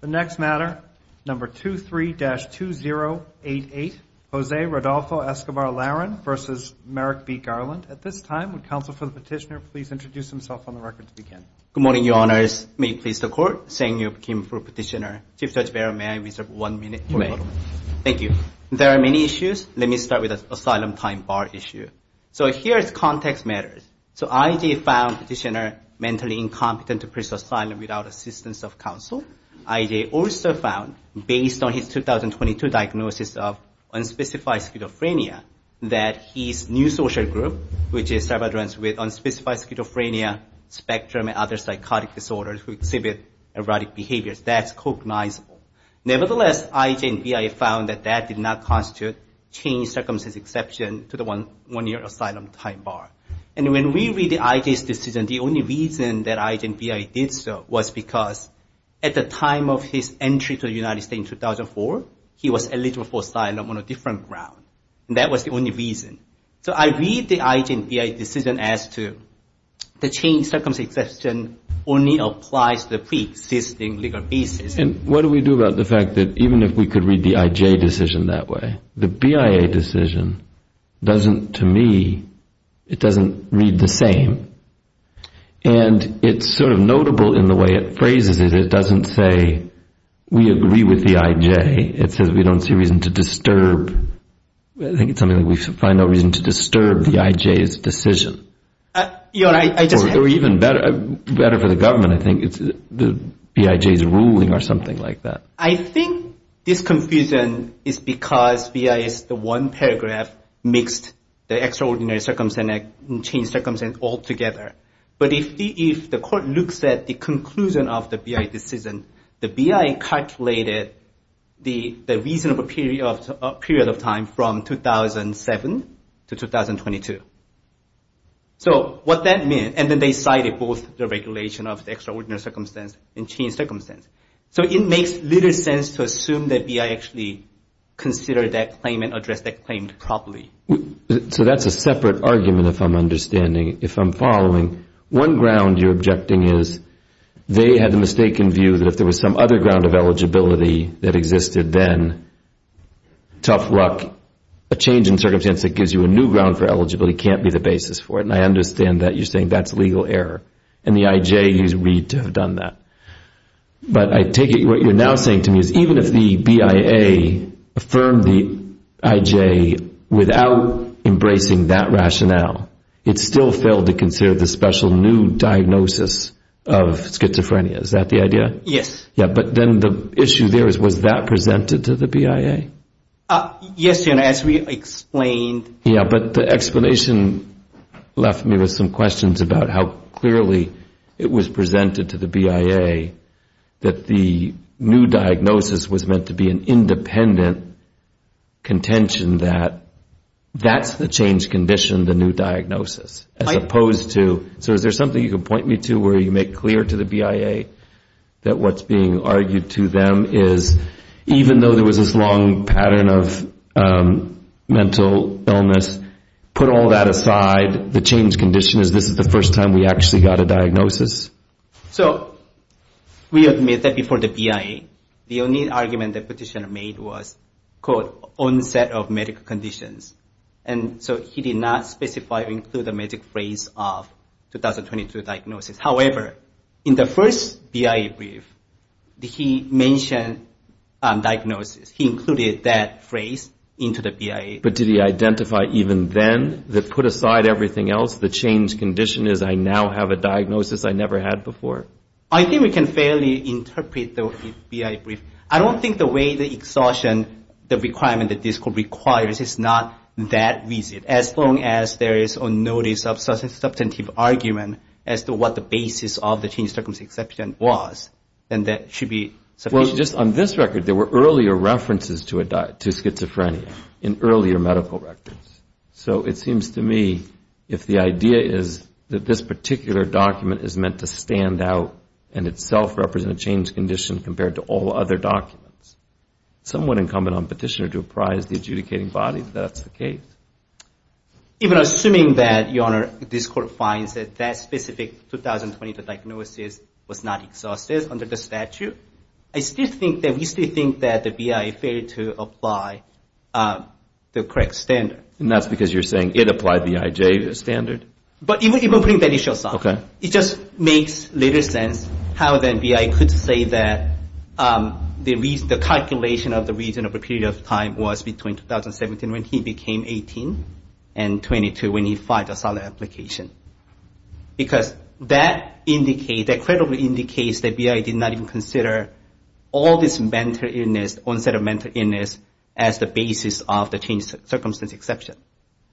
The next matter, number 23-2088, Jose Rodolfo Escobar Larin versus Merrick B. Garland. At this time, would counsel for the petitioner please introduce himself on the record to begin? Good morning, your honors. May you please the court? Sang-Yup Kim for petitioner. Chief Judge Barron, may I reserve one minute? You may. Thank you. There are many issues. Let me start with the asylum time bar issue. So here is context matters. So IG found petitioner mentally incompetent to press asylum without assistance of counsel. IG also found, based on his 2022 diagnosis of unspecified schizophrenia, that his new social group, which is Salvadorans with unspecified schizophrenia spectrum and other psychotic disorders who exhibit erotic behaviors, that's cognizable. Nevertheless, IG and BI found that that did not constitute change circumstance exception to the one-year asylum time bar. And when we read IG's decision, the only reason that IG and BI did so was because, at the time of his entry to the United States in 2004, he was eligible for asylum on a different ground. And that was the only reason. So I read the IG and BI decision as to the change circumstance exception only applies to the preexisting legal basis. And what do we do about the fact that even if we could read the IJ decision that way, the BIA decision doesn't, to me, it doesn't read the same. And it's sort of notable in the way it phrases it. It doesn't say we agree with the IJ. It says we don't see reason to disturb. I think it's something like we find no reason to disturb the IJ's decision. Or even better for the government, I think it's the BIJ's ruling or something like that. I think this confusion is because BI is the one paragraph mixed the extraordinary circumstance, and change circumstance altogether. But if the court looks at the conclusion of the BI decision, the BI calculated the reasonable period of time from 2007 to 2022. So what that meant, and then they cited both the regulation of the extraordinary circumstance and change circumstance. So it makes little sense to assume that BI actually considered that claim and addressed that claim properly. So that's a separate argument, if I'm understanding, if I'm following. One ground you're objecting is they had the mistaken view that if there was some other ground of eligibility that existed then, tough luck. A change in circumstance that gives you a new ground for eligibility can't be the basis for it. And I understand that you're saying that's legal error. And the IJ is read to have done that. But I take it what you're now saying to me is even if the BIA affirmed the IJ without embracing that rationale, it still failed to consider the special new diagnosis of schizophrenia. Is that the idea? Yes. Yeah, but then the issue there is was that presented to the BIA? Yes, as we explained. Yeah, but the explanation left me with some questions about how clearly it was presented to the BIA that the new diagnosis was meant to be an independent contention that that's the change condition, the new diagnosis. As opposed to, so is there something you can point me to where you make clear to the BIA that what's being argued to them is even though there was this long pattern of mental illness, put all that aside, the change condition is this is the first time we actually got a diagnosis? So we admit that before the BIA, the only argument the petitioner made was, quote, onset of medical conditions. And so he did not specify or include the magic phrase of 2022 diagnosis. However, in the first BIA brief, he mentioned diagnosis. He included that phrase into the BIA. But did he identify even then that put aside everything else, the change condition is I now have a diagnosis I never had before? I think we can fairly interpret the BIA brief. I don't think the way the exhaustion, the requirement that this court requires is not that easy. As long as there is a notice of substantive argument as to what the basis of the change circumstance was, then that should be sufficient. On this record, there were earlier references to schizophrenia in earlier medical records. So it seems to me if the idea is that this particular document is meant to stand out and itself represent a change condition compared to all other documents, somewhat incumbent on petitioner to apprise the adjudicating body that that's the case. Even assuming that, Your Honor, this court finds that that specific 2022 diagnosis was not exhaustive under the statute, I still think that we still think that the BIA failed to apply the correct standard. And that's because you're saying it applied the IJ standard? But even putting that issue aside, it just makes little sense how the BIA could say that the calculation of the reason of the period of time was between 2017 when he became 18 and 22 when he filed a solid application. Because that indicates, that credibly indicates that BIA did not even consider all this mental illness, onset of mental illness as the basis of the change circumstance exception.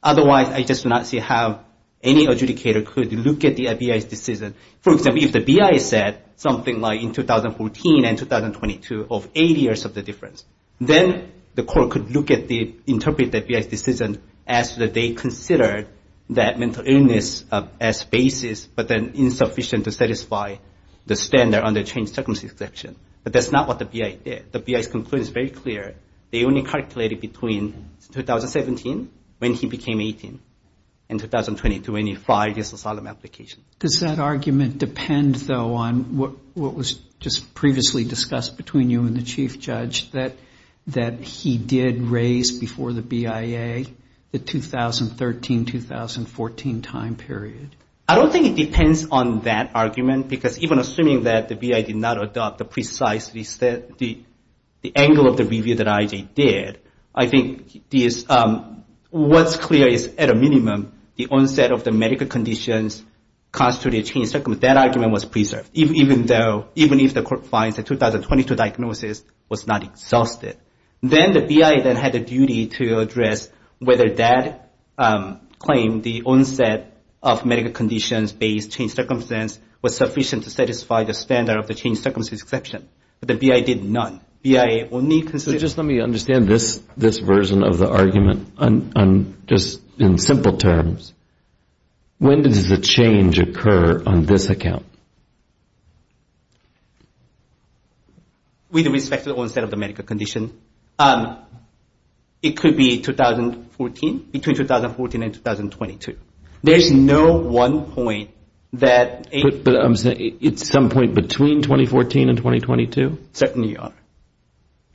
Otherwise, I just do not see how any adjudicator could look at the BIA's decision. For example, if the BIA said something like in 2014 and 2022 of eight years of the difference, then the court could look at the, interpret the BIA's decision as that they considered that mental illness as basis, but then insufficient to satisfy the standard on the change circumstance exception. So I think it's between 2017 when he became 18 and 2022 when he filed his solid application. Does that argument depend, though, on what was just previously discussed between you and the Chief Judge, that he did raise before the BIA the 2013-2014 time period? I don't think it depends on that argument, because even assuming that the BIA did not adopt the precise, the angle of the review that IJ did, I think what's clear is at a minimum the onset of the medical conditions constituted a change circumstance. That argument was preserved, even though, even if the court finds the 2022 diagnosis was not exhausted. Then the BIA then had a duty to address whether that claim, the onset of medical conditions based change circumstance was sufficient to satisfy the standard of the change circumstance exception. But the BIA did none. So just let me understand this version of the argument, just in simple terms. When does the change occur on this account? With respect to the onset of the medical condition, it could be 2014, between 2014 and 2022. There's no one point that. But I'm saying it's some point between 2014 and 2022? Certainly are.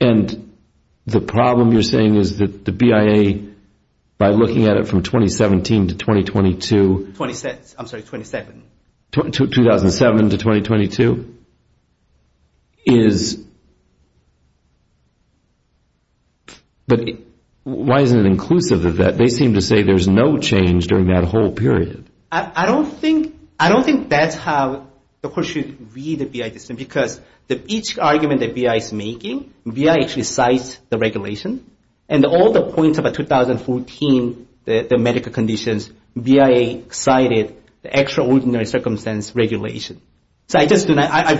And the problem you're saying is that the BIA, by looking at it from 2017 to 2022. I'm sorry, 27. 2007 to 2022. But why isn't it inclusive of that? They seem to say there's no change during that whole period. I don't think that's how the court should read the BIA decision, because each argument that BIA is making, BIA actually cites the regulation, and all the points about 2014, the medical conditions, BIA cited the extraordinary circumstance regulation. So I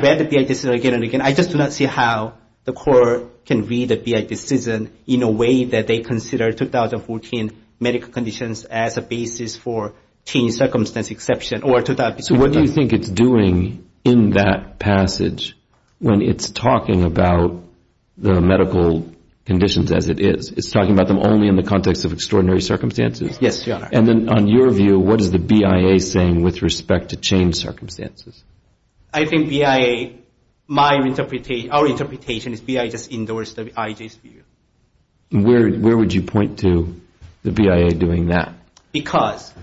read the BIA decision again and again. I just do not see how the court can read the BIA decision in a way that they consider 2014 medical conditions as a basis for change circumstance exception. So what do you think it's doing in that passage when it's talking about the medical conditions as it is? It's talking about them only in the context of extraordinary circumstances? Yes, Your Honor. And then on your view, what is the BIA saying with respect to change circumstances? I think BIA, my interpretation, our interpretation is BIA just endorsed the IJ's view. Where would you point to the BIA doing that? Because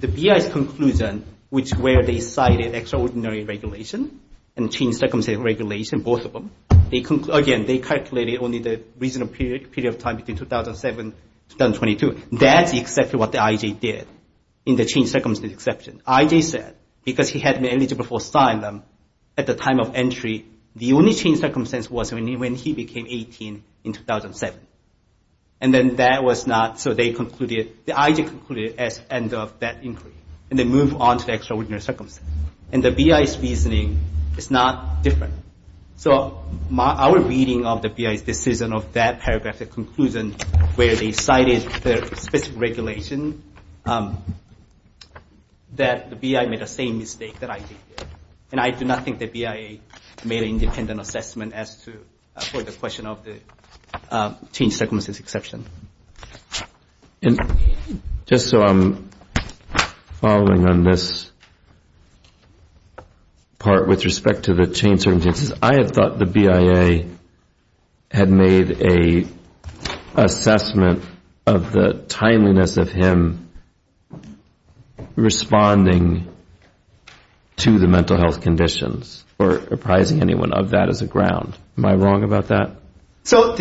the BIA's conclusion, which where they cited extraordinary regulation and change circumstance regulation, both of them, again, they calculated only the reasonable period of time between 2007 and 2022. That's exactly what the IJ did in the change circumstance exception. IJ said because he had been eligible for asylum at the time of entry, the only change circumstance was when he became 18 in 2007. And then that was not, so they concluded, the IJ concluded as end of that inquiry. And they moved on to the extraordinary circumstance. And the BIA's reasoning is not different. So our reading of the BIA's decision of that paragraph, the conclusion where they cited the specific regulation, that the BIA made the same mistake that IJ did. And I do not think the BIA made an independent assessment as to, for the question of the change circumstance exception. Just so I'm following on this part with respect to the change circumstance exception, I just want to point out that the I have thought the BIA had made an assessment of the timeliness of him responding to the mental health conditions or apprising anyone of that as a ground. Am I wrong about that? I'm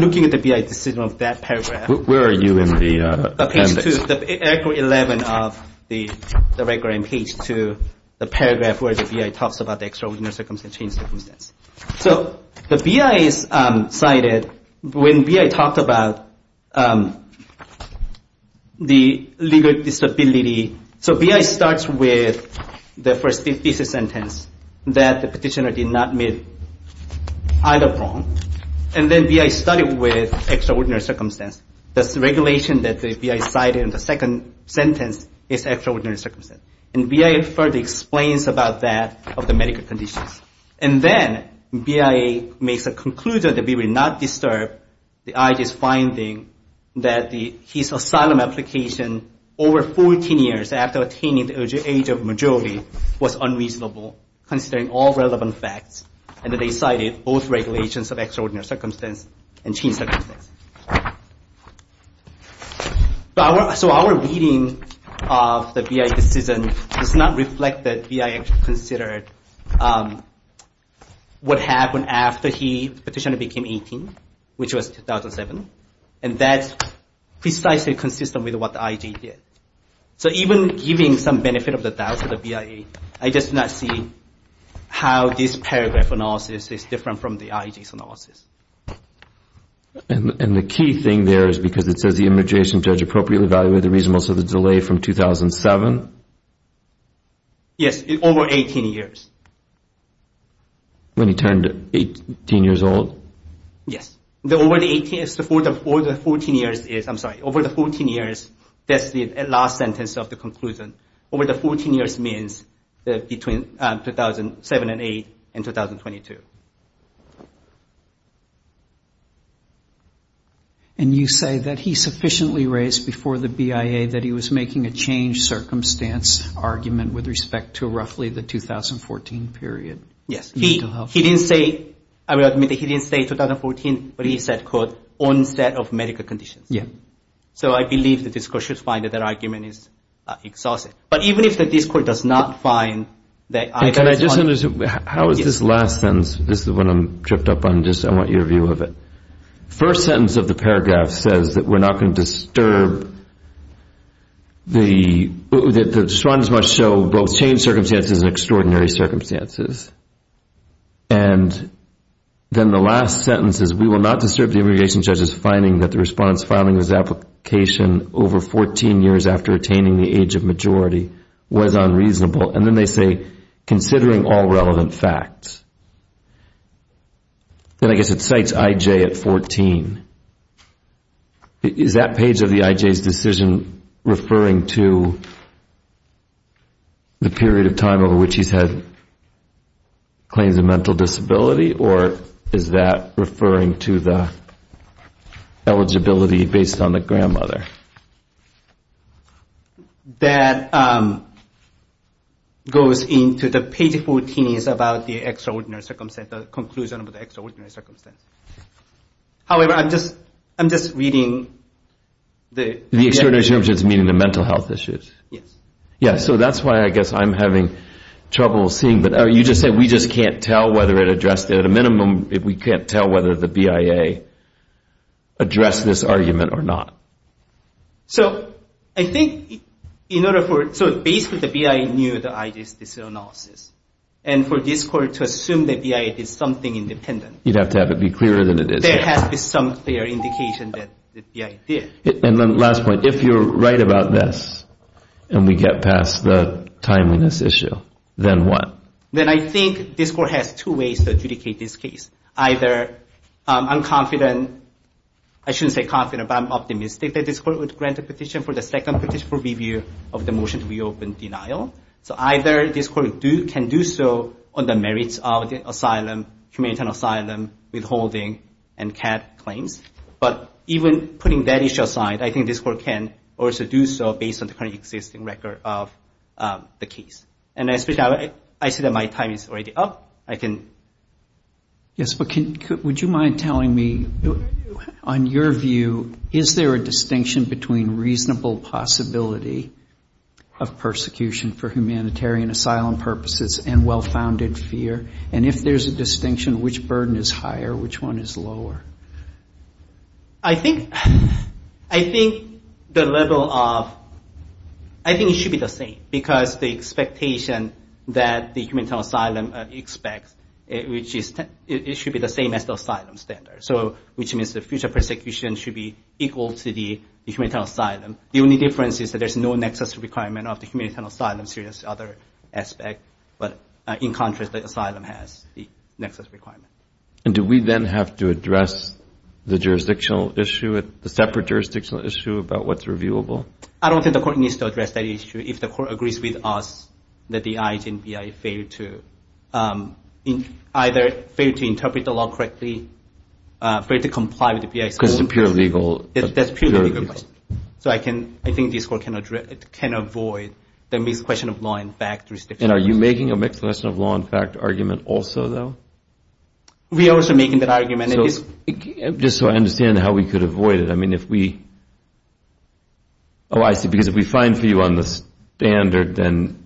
looking at the BIA's decision of that paragraph. Where are you in the appendix? 11 of the record and page 2, the paragraph where the BIA talks about the extraordinary circumstance change circumstance. So the BIA cited, when BIA talked about the legal disability, so BIA starts with the first thesis sentence that the petitioner did not make either wrong. And then BIA started with extraordinary circumstance. The regulation that the BIA cited in the second sentence is extraordinary circumstance. And BIA further explains about that of the medical conditions. And then BIA makes a conclusion that we will not disturb the IJ's finding that his asylum application over 14 years after attaining the age of majority was unreasonable considering all relevant facts. And then they cited both regulations of extraordinary circumstance and change circumstance. So our reading of the BIA decision does not reflect that BIA considered what happened after he petitioned to become 18, which was 2007. And that's precisely consistent with what the IJ did. So even giving some benefit of the doubt to the BIA, I just do not see how this paragraph analysis is different from the IJ's analysis. And the key thing there is because it says the immigration judge appropriately evaluated the reasonableness of the delay from 2007? Yes, over 18 years. When he turned 18 years old? Yes. Over the 14 years, that's the last sentence of the conclusion. Over the 14 years means between 2007 and 8 and 2022. And you say that he sufficiently raised before the BIA that he was making a change circumstance argument with respect to roughly the 2014 period? Yes. He didn't say 2014, but he said, quote, onset of medical conditions. So I believe the discourse should find that that argument is exhaustive. But even if the discourse does not find that the IJ. How is this last sentence, this is the one I'm tripped up on, I want your view of it. First sentence of the paragraph says that we're not going to disturb the, the response must show both change circumstances and extraordinary circumstances. And then the last sentence is we will not disturb the immigration judge's finding that the response filing his application over 14 years after attaining the age of majority was unreasonable. And then they say considering all relevant facts. And I guess it cites IJ at 14. Is that page of the IJ's decision referring to the period of time over which he's had claims of mental disability? Or is that referring to the eligibility based on the grandmother? That goes into the page 14 is about the extraordinary circumstance, the conclusion of the extraordinary circumstance. However, I'm just, I'm just reading. The extraordinary circumstances meaning the mental health issues. Yes. So that's why I guess I'm having trouble seeing, but you just said we just can't tell whether it addressed it. At a minimum, we can't tell whether the BIA addressed this argument or not. So I think in order for, so basically the BIA knew the IJ's decision analysis. And for this court to assume that BIA did something independent. You'd have to have it be clearer than it is. There has to be some clear indication that the BIA did. And then last point, if you're right about this, and we get past the timeliness issue, then what? Then I think this court has two ways to adjudicate this case. Either I'm confident, I shouldn't say confident, but I'm optimistic that this court would grant a petition for the second petition for review of the motion to reopen denial. So either this court can do so on the merits of the asylum, humanitarian asylum, withholding, and other conditions. But even putting that issue aside, I think this court can also do so based on the current existing record of the case. And I see that my time is already up. Yes, but would you mind telling me, on your view, is there a distinction between reasonable possibility of persecution for humanitarian asylum purposes and well-founded fear? And if there's a distinction, which burden is higher, which one is lower? I think the level of, I think it should be the same. Because the expectation that the humanitarian asylum expects, it should be the same as the asylum standard. Which means the future persecution should be equal to the humanitarian asylum. The only difference is that there's no nexus requirement of the humanitarian asylum serious other aspect. But in contrast, the asylum has the nexus requirement. And do we then have to address the jurisdictional issue, the separate jurisdictional issue about what's reviewable? I don't think the court needs to address that issue. If the court agrees with us that the IH and BI fail to either fail to interpret the law correctly, fail to comply with the BI's own Because it's a pure legal question. So I think this court can avoid the mixed question of law and fact. And are you making a mixed question of law and fact argument also, though? We are also making that argument. Just so I understand how we could avoid it. Oh, I see. Because if we find for you on the standard, then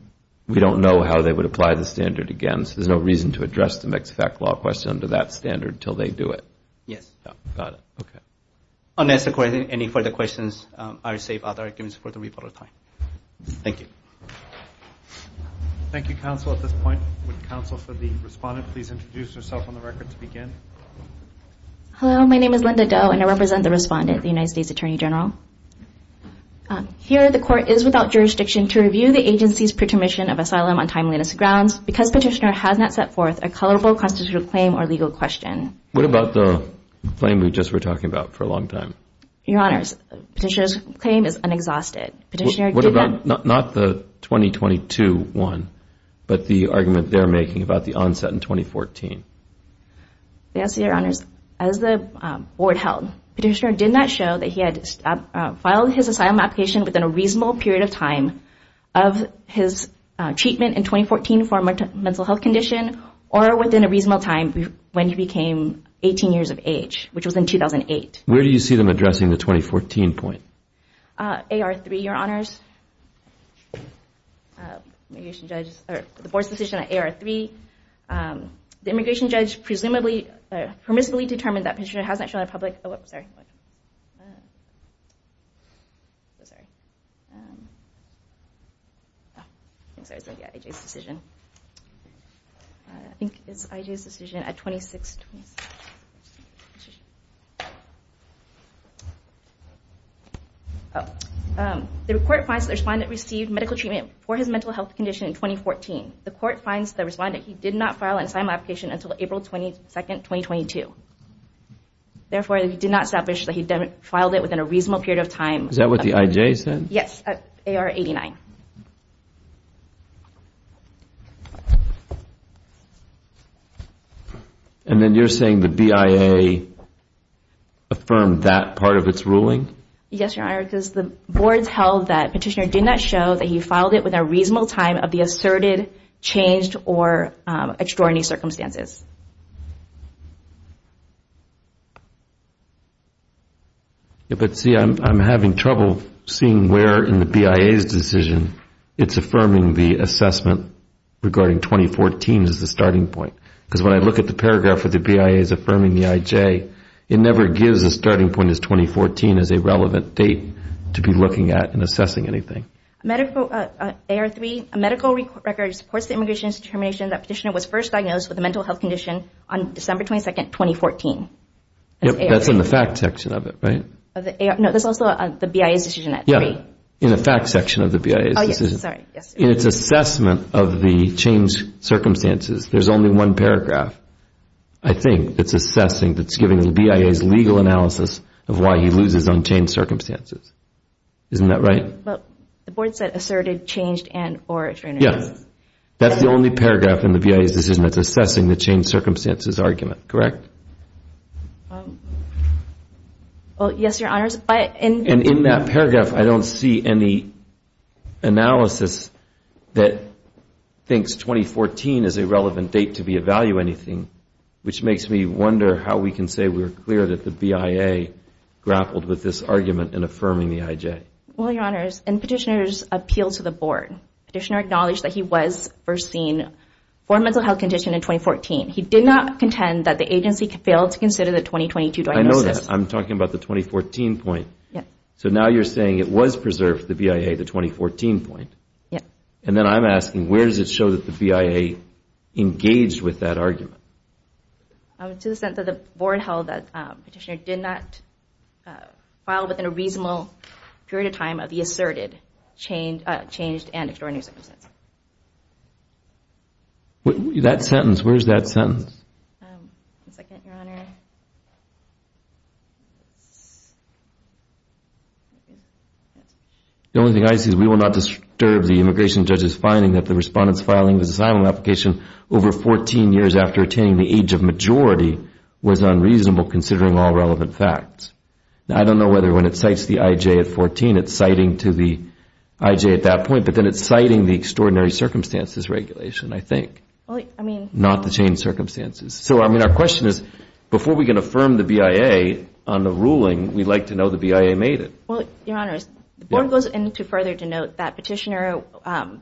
we don't know how they would apply the standard again. There's no reason to address the mixed fact law question under that standard until they do it. Yes. Got it. Okay. Any further questions, I'll save other arguments for the rebuttal time. Thank you. Thank you, counsel. At this point, would counsel for the respondent please introduce herself on the record to begin? Hello, my name is Linda Do and I represent the respondent, the United States Attorney General. Here, the court is without jurisdiction to review the agency's pretermission of asylum on timeliness grounds because petitioner has not set forth a colorable constitutional claim or legal question. What about the claim we just were talking about for a long time? Your honors, petitioner's claim is unexhausted. What about not the 2022 one, but the argument they're making about the onset in 2014? Yes, your honors. As the board held, petitioner did not show that he had filed his asylum application within a reasonable period of time of his treatment in 2014 for a mental health condition or within a reasonable time when he became 18 years of age, which was in 2008. Where do you see them addressing the 2014 point? AR3, your honors. The board's decision on AR3. The immigration judge presumably determined that petitioner has not shown a public... I think it's IJ's decision at 26... The court finds the respondent received medical treatment for his mental health condition in 2014. The court finds the respondent he did not file an asylum application until April 22, 2022. Therefore, he did not establish that he filed it within a reasonable period of time. Is that what the IJ said? Yes, AR89. And then you're saying the BIA affirmed that part of its ruling? Yes, your honors. Because the board held that petitioner did not show that he filed it within a reasonable time of the asserted changed or extraordinary circumstances. But see, I'm having trouble seeing where in the BIA's decision it's affirming the assessment regarding 2014 as the starting point. Because when I look at the paragraph where the BIA is affirming the IJ, it never gives a starting point as 2014 as a relevant date to be looking at and assessing anything. AR3, a medical record supports the immigration determination that petitioner was first diagnosed with a mental health condition in 2014. Yes, that's in the fact section of it, right? No, that's also the BIA's decision at 3. In the fact section of the BIA's decision. In its assessment of the changed circumstances, there's only one paragraph, I think, that's assessing, that's giving the BIA's legal analysis of why he loses on changed circumstances. Isn't that right? But the board said asserted, changed and or extraordinary circumstances. Yes, that's the only paragraph in the BIA's decision that's assessing the changed circumstances argument, correct? Well, yes, your honors. And in that paragraph, I don't see any analysis that thinks 2014 is a relevant date to be evaluating anything, which makes me wonder how we can say we're clear that the BIA grappled with this argument in affirming the IJ. And petitioner's appeal to the board, petitioner acknowledged that he was first seen for a mental health condition in 2014. He did not contend that the agency failed to consider the 2022 diagnosis. I know that. I'm talking about the 2014 point. So now you're saying it was preserved for the BIA, the 2014 point. And then I'm asking where does it show that the BIA engaged with that argument? To the extent that the board held that petitioner did not file within a reasonable period of time of the asserted changed and extraordinary circumstances. That sentence, where is that sentence? The only thing I see is we will not disturb the immigration judge's finding that the respondents filing this asylum application over 14 years after attaining the age of majority was unreasonable considering all relevant facts. I don't know whether when it cites the IJ at 14, it's citing to the IJ at that point. But then it's citing the extraordinary circumstances regulation, I think. Not the changed circumstances. So our question is before we can affirm the BIA on the ruling, we'd like to know the BIA made it. Well, Your Honor, the board goes into further to note that petitioner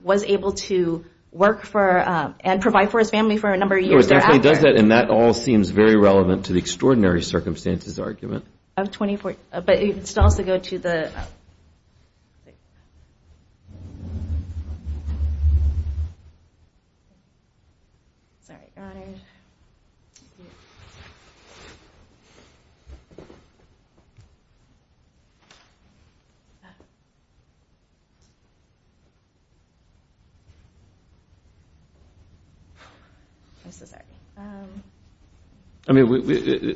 was able to work for and provide for his family for a number of years. And that all seems very relevant to the extraordinary circumstances argument. I'm so sorry.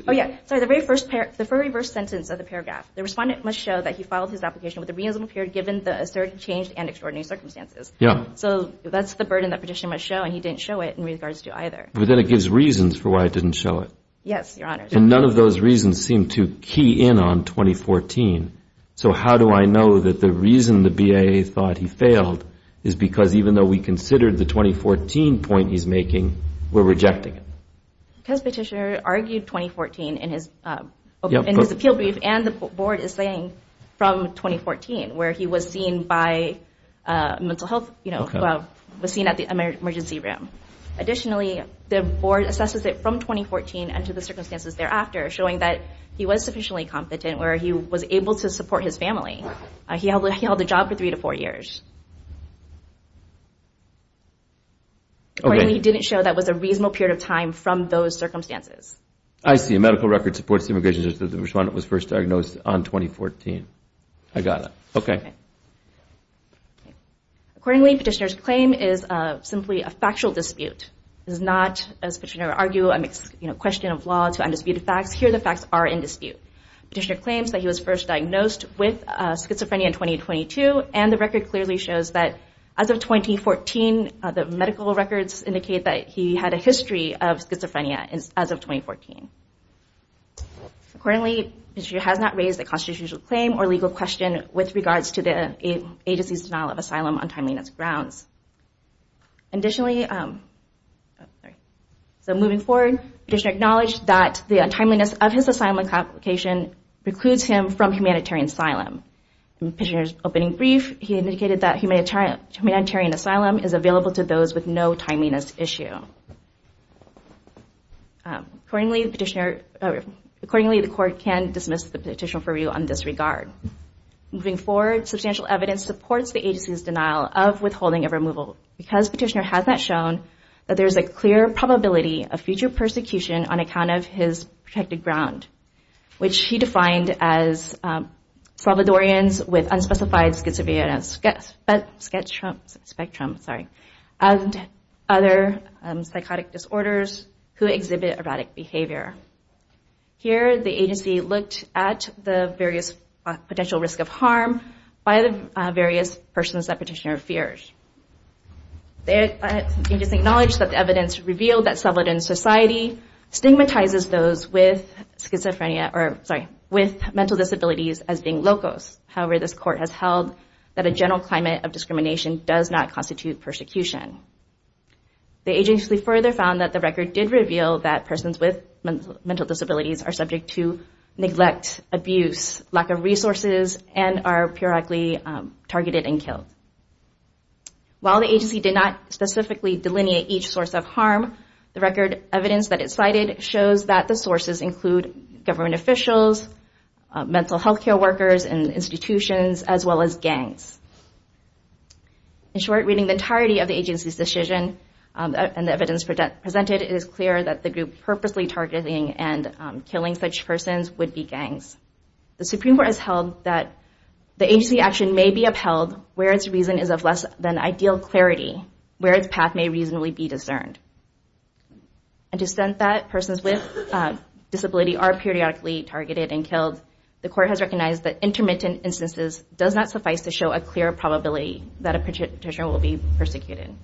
Oh, yeah, sorry, the very first sentence of the paragraph, the respondent must show that he filed his application with a reasonable period given the asserted changed and extraordinary circumstances. So that's the burden that petitioner must show and he didn't show it in regards to either. But then it gives reasons for why it didn't show it. And none of those reasons seem to key in on 2014. So how do I know that the reason the BIA thought he failed is because even though we considered the 2014 point he's making, we're rejecting it? Because petitioner argued 2014 in his appeal brief and the board is saying from 2014 where he was seen by mental health, you know, was seen at the emergency room. Additionally, the board assesses it from 2014 and to the circumstances thereafter, showing that he was sufficiently competent where he was able to support his family. He held a job for three to four years. Accordingly, he didn't show that was a reasonable period of time from those circumstances. I see. A medical record supports the implications that the respondent was first diagnosed on 2014. I got it. Okay. Accordingly, petitioner's claim is simply a factual dispute. It's not, as petitioner argued, a question of law to undisputed facts. Here, the facts are in dispute. Petitioner claims that he was first diagnosed with schizophrenia in 2022, and the record clearly shows that as of 2014, the medical records indicate that he had a history of schizophrenia as of 2014. Accordingly, he has not raised a constitutional claim or legal question with regards to the agency's denial of asylum on timeliness grounds. Additionally, so moving forward, petitioner acknowledged that the timeliness of his asylum application precludes him from humanitarian asylum. In petitioner's opening brief, he indicated that humanitarian asylum is available to those with no timeliness issue. Accordingly, the court can dismiss the petition for review on this regard. Moving forward, substantial evidence supports the agency's denial of withholding of removal, because petitioner has not shown that there is a clear probability of future persecution on account of his protected ground, which he defined as Salvadorians with unspecified schizophrenia spectrum and other psychotic disorders who exhibit erratic behavior. Here, the agency looked at the various potential risk of harm by the various persons that petitioner feared. The agency acknowledged that the evidence revealed that Salvadorian society stigmatizes those with mental disabilities as being locos. However, this court has held that a general climate of discrimination does not constitute persecution. The agency further found that the record did reveal that persons with mental disabilities are subject to neglect, abuse, lack of resources, and are periodically targeted and killed. While the agency did not specifically delineate each source of harm, the record evidence that it cited shows that the sources include government officials, mental health care workers, and institutions, as well as gangs. In short, reading the entirety of the agency's decision, and the evidence presented, it is clear that the group purposely targeting and killing such persons would be gangs. The Supreme Court has held that the agency's action may be upheld where its reason is of less than ideal clarity, where its path may reasonably be discerned. And to the extent that persons with disabilities are periodically targeted and killed, the court has recognized that intermittent instances does not suffice to show a clear probability of future persecution.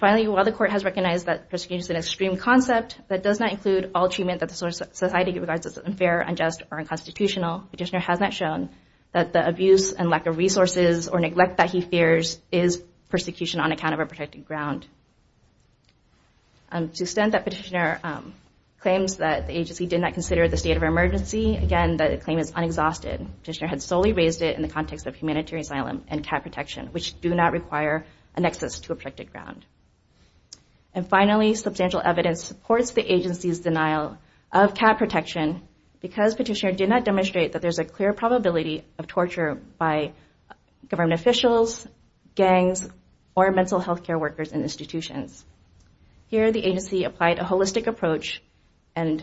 Finally, while the court has recognized that persecution is an extreme concept, that does not include all treatment that the society regards as unfair, unjust, or unconstitutional, the petitioner has not shown that the abuse and lack of resources or neglect that he fears is persecution on account of a protected ground. To the extent that the petitioner claims that the agency did not consider the state of emergency, again, the claim is unexhausted. The petitioner had solely raised it in the context of humanitarian asylum and cat protection, which do not require an access to a protected ground. And finally, substantial evidence supports the agency's denial of cat protection because the petitioner did not demonstrate that there is a clear probability of torture by government officials, gangs, or mental health care workers and institutions. Here, the agency applied a holistic approach and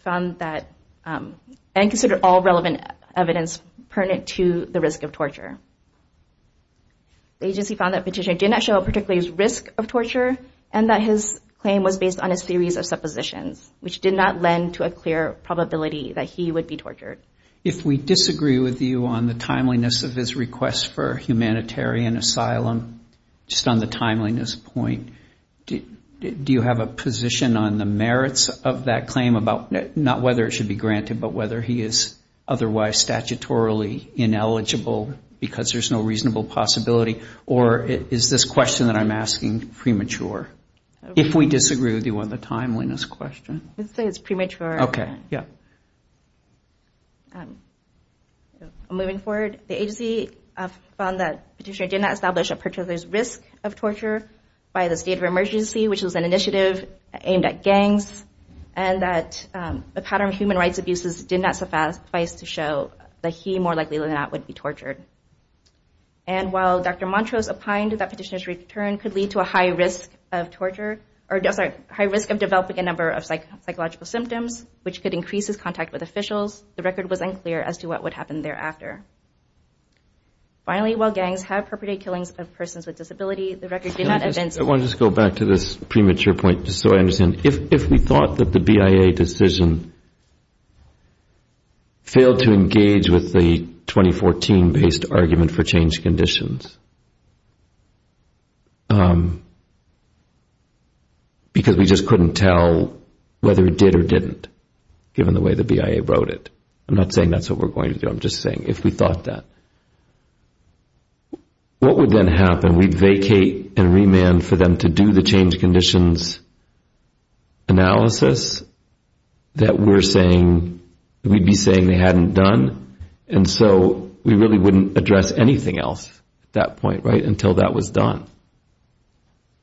found that, and considered all relevant evidence, that there is a clear probability of torture by government officials, gangs, or mental health care workers and institutions. The agency found that the petitioner did not show a particular risk of torture and that his claim was based on a series of suppositions, which did not lend to a clear probability that he would be tortured. If we disagree with you on the timeliness of his request for humanitarian asylum, just on the timeliness point, do you have a position on the merits of that claim, not whether it should be granted, but whether he is otherwise statutory? Or is this question that I'm asking premature? If we disagree with you on the timeliness question. Moving forward, the agency found that the petitioner did not establish a particular risk of torture by the state of emergency, which was an initiative aimed at gangs, and that the pattern of human rights abuses did not suffice to show that he was tortured. And while Dr. Montrose opined that the petitioner's return could lead to a high risk of developing a number of psychological symptoms, which could increase his contact with officials, the record was unclear as to what would happen thereafter. Finally, while gangs have perpetrated killings of persons with disabilities, the record did not evidence... I want to just go back to this premature point, just so I understand. If we thought that the BIA decision failed to engage with the 2014-based argument for change conditions, because we just couldn't tell whether it did or didn't, given the way the BIA wrote it, I'm not saying that's what we're going to do, I'm just saying if we thought that, what would then happen? We'd vacate and remand for them to do the change conditions analysis that we'd be saying they hadn't done, and so we really wouldn't address anything else at that point, right, until that was done.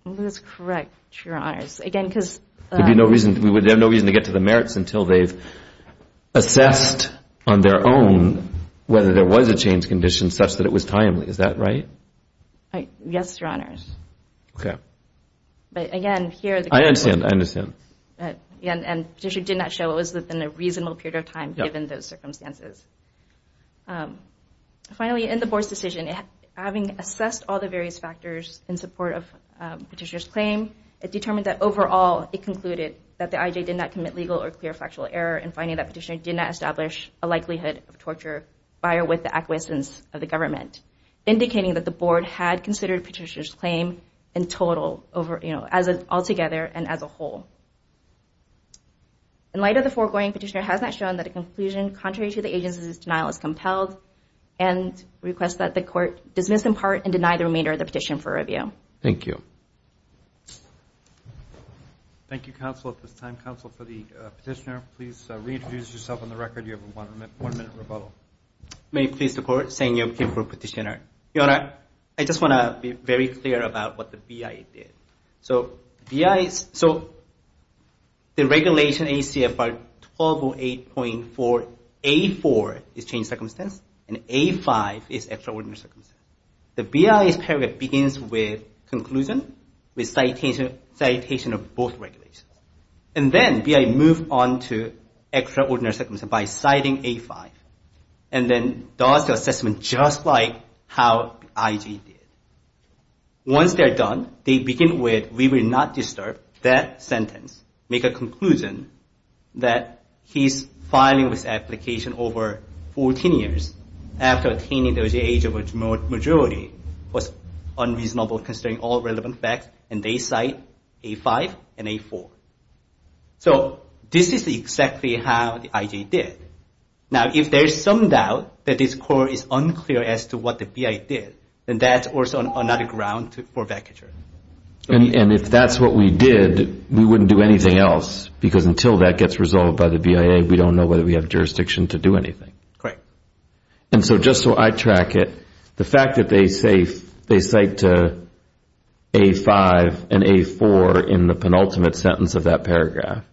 That's correct, Your Honors. We would have no reason to get to the merits until they've assessed on their own whether there was a change condition such that it was timely, is that right? Yes, Your Honors. I understand. And the petitioner did not show it was within a reasonable period of time, given those circumstances. Finally, in the Board's decision, having assessed all the various factors in support of the petitioner's claim, it determined that overall it concluded that the IJ did not commit legal or clear factual error in finding that the petitioner did not establish a likelihood of torture, prior with the acquiescence of the government, indicating that the Board had considered the petitioner's claim in total, altogether and as a whole. In light of the foregoing, the petitioner has not shown that a conclusion contrary to the agency's denial is compelled and requests that the Court dismiss in part and deny the remainder of the petition for review. Thank you. Thank you, Counsel. At this time, Counsel, for the petitioner, please reintroduce yourself on the record. You have a one-minute rebuttal. May it please the Court, Sang-Yeop Kim for petitioner. Your Honor, I just want to be very clear about what the BIA did. So the regulation ACFR 1208.4A4 is change circumstance, and A5 is extraordinary circumstance. The BIA's paragraph begins with conclusion, with citation of both regulations. And then BIA moved on to extraordinary circumstance by citing A5. And then does the assessment just like how IJ did. Once they're done, they begin with, we will not disturb that sentence, make a conclusion that he's filing this application over 14 years after attaining the OJH of a remote age. The majority was unreasonable considering all relevant facts, and they cite A5 and A4. So this is exactly how the IJ did. Now, if there's some doubt that this Court is unclear as to what the BIA did, then that's also another ground for vacature. And if that's what we did, we wouldn't do anything else. Because until that gets resolved by the BIA, we don't know whether we have jurisdiction to do anything. And so just so I track it, the fact that they cite A5 and A4 in the penultimate sentence of that paragraph,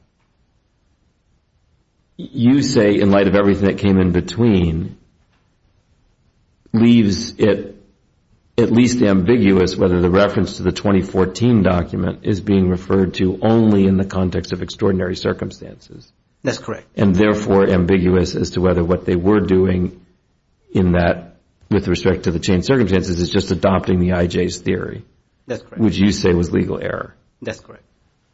you say in light of everything that came in between, leaves it at least ambiguous whether the reference to the 2014 document is being referred to only in the context of extraordinary circumstances. That's correct. And therefore ambiguous as to whether what they were doing in that with respect to the changed circumstances is just adopting the IJ's theory. That's correct. Which you say was legal error. That's correct.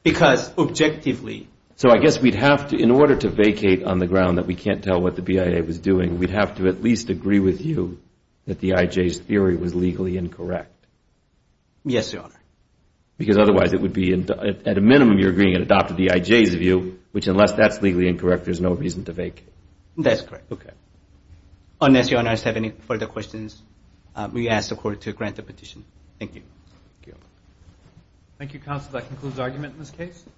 Because objectively So I guess we'd have to, in order to vacate on the ground that we can't tell what the BIA was doing, we'd have to at least agree with you that the IJ's theory was legally incorrect. Yes, Your Honor. Because otherwise it would be, at a minimum you're agreeing it adopted the IJ's view, which unless that's legally incorrect, there's no reason to vacate. That's correct. Unless Your Honor has any further questions, we ask the Court to grant the petition. Thank you.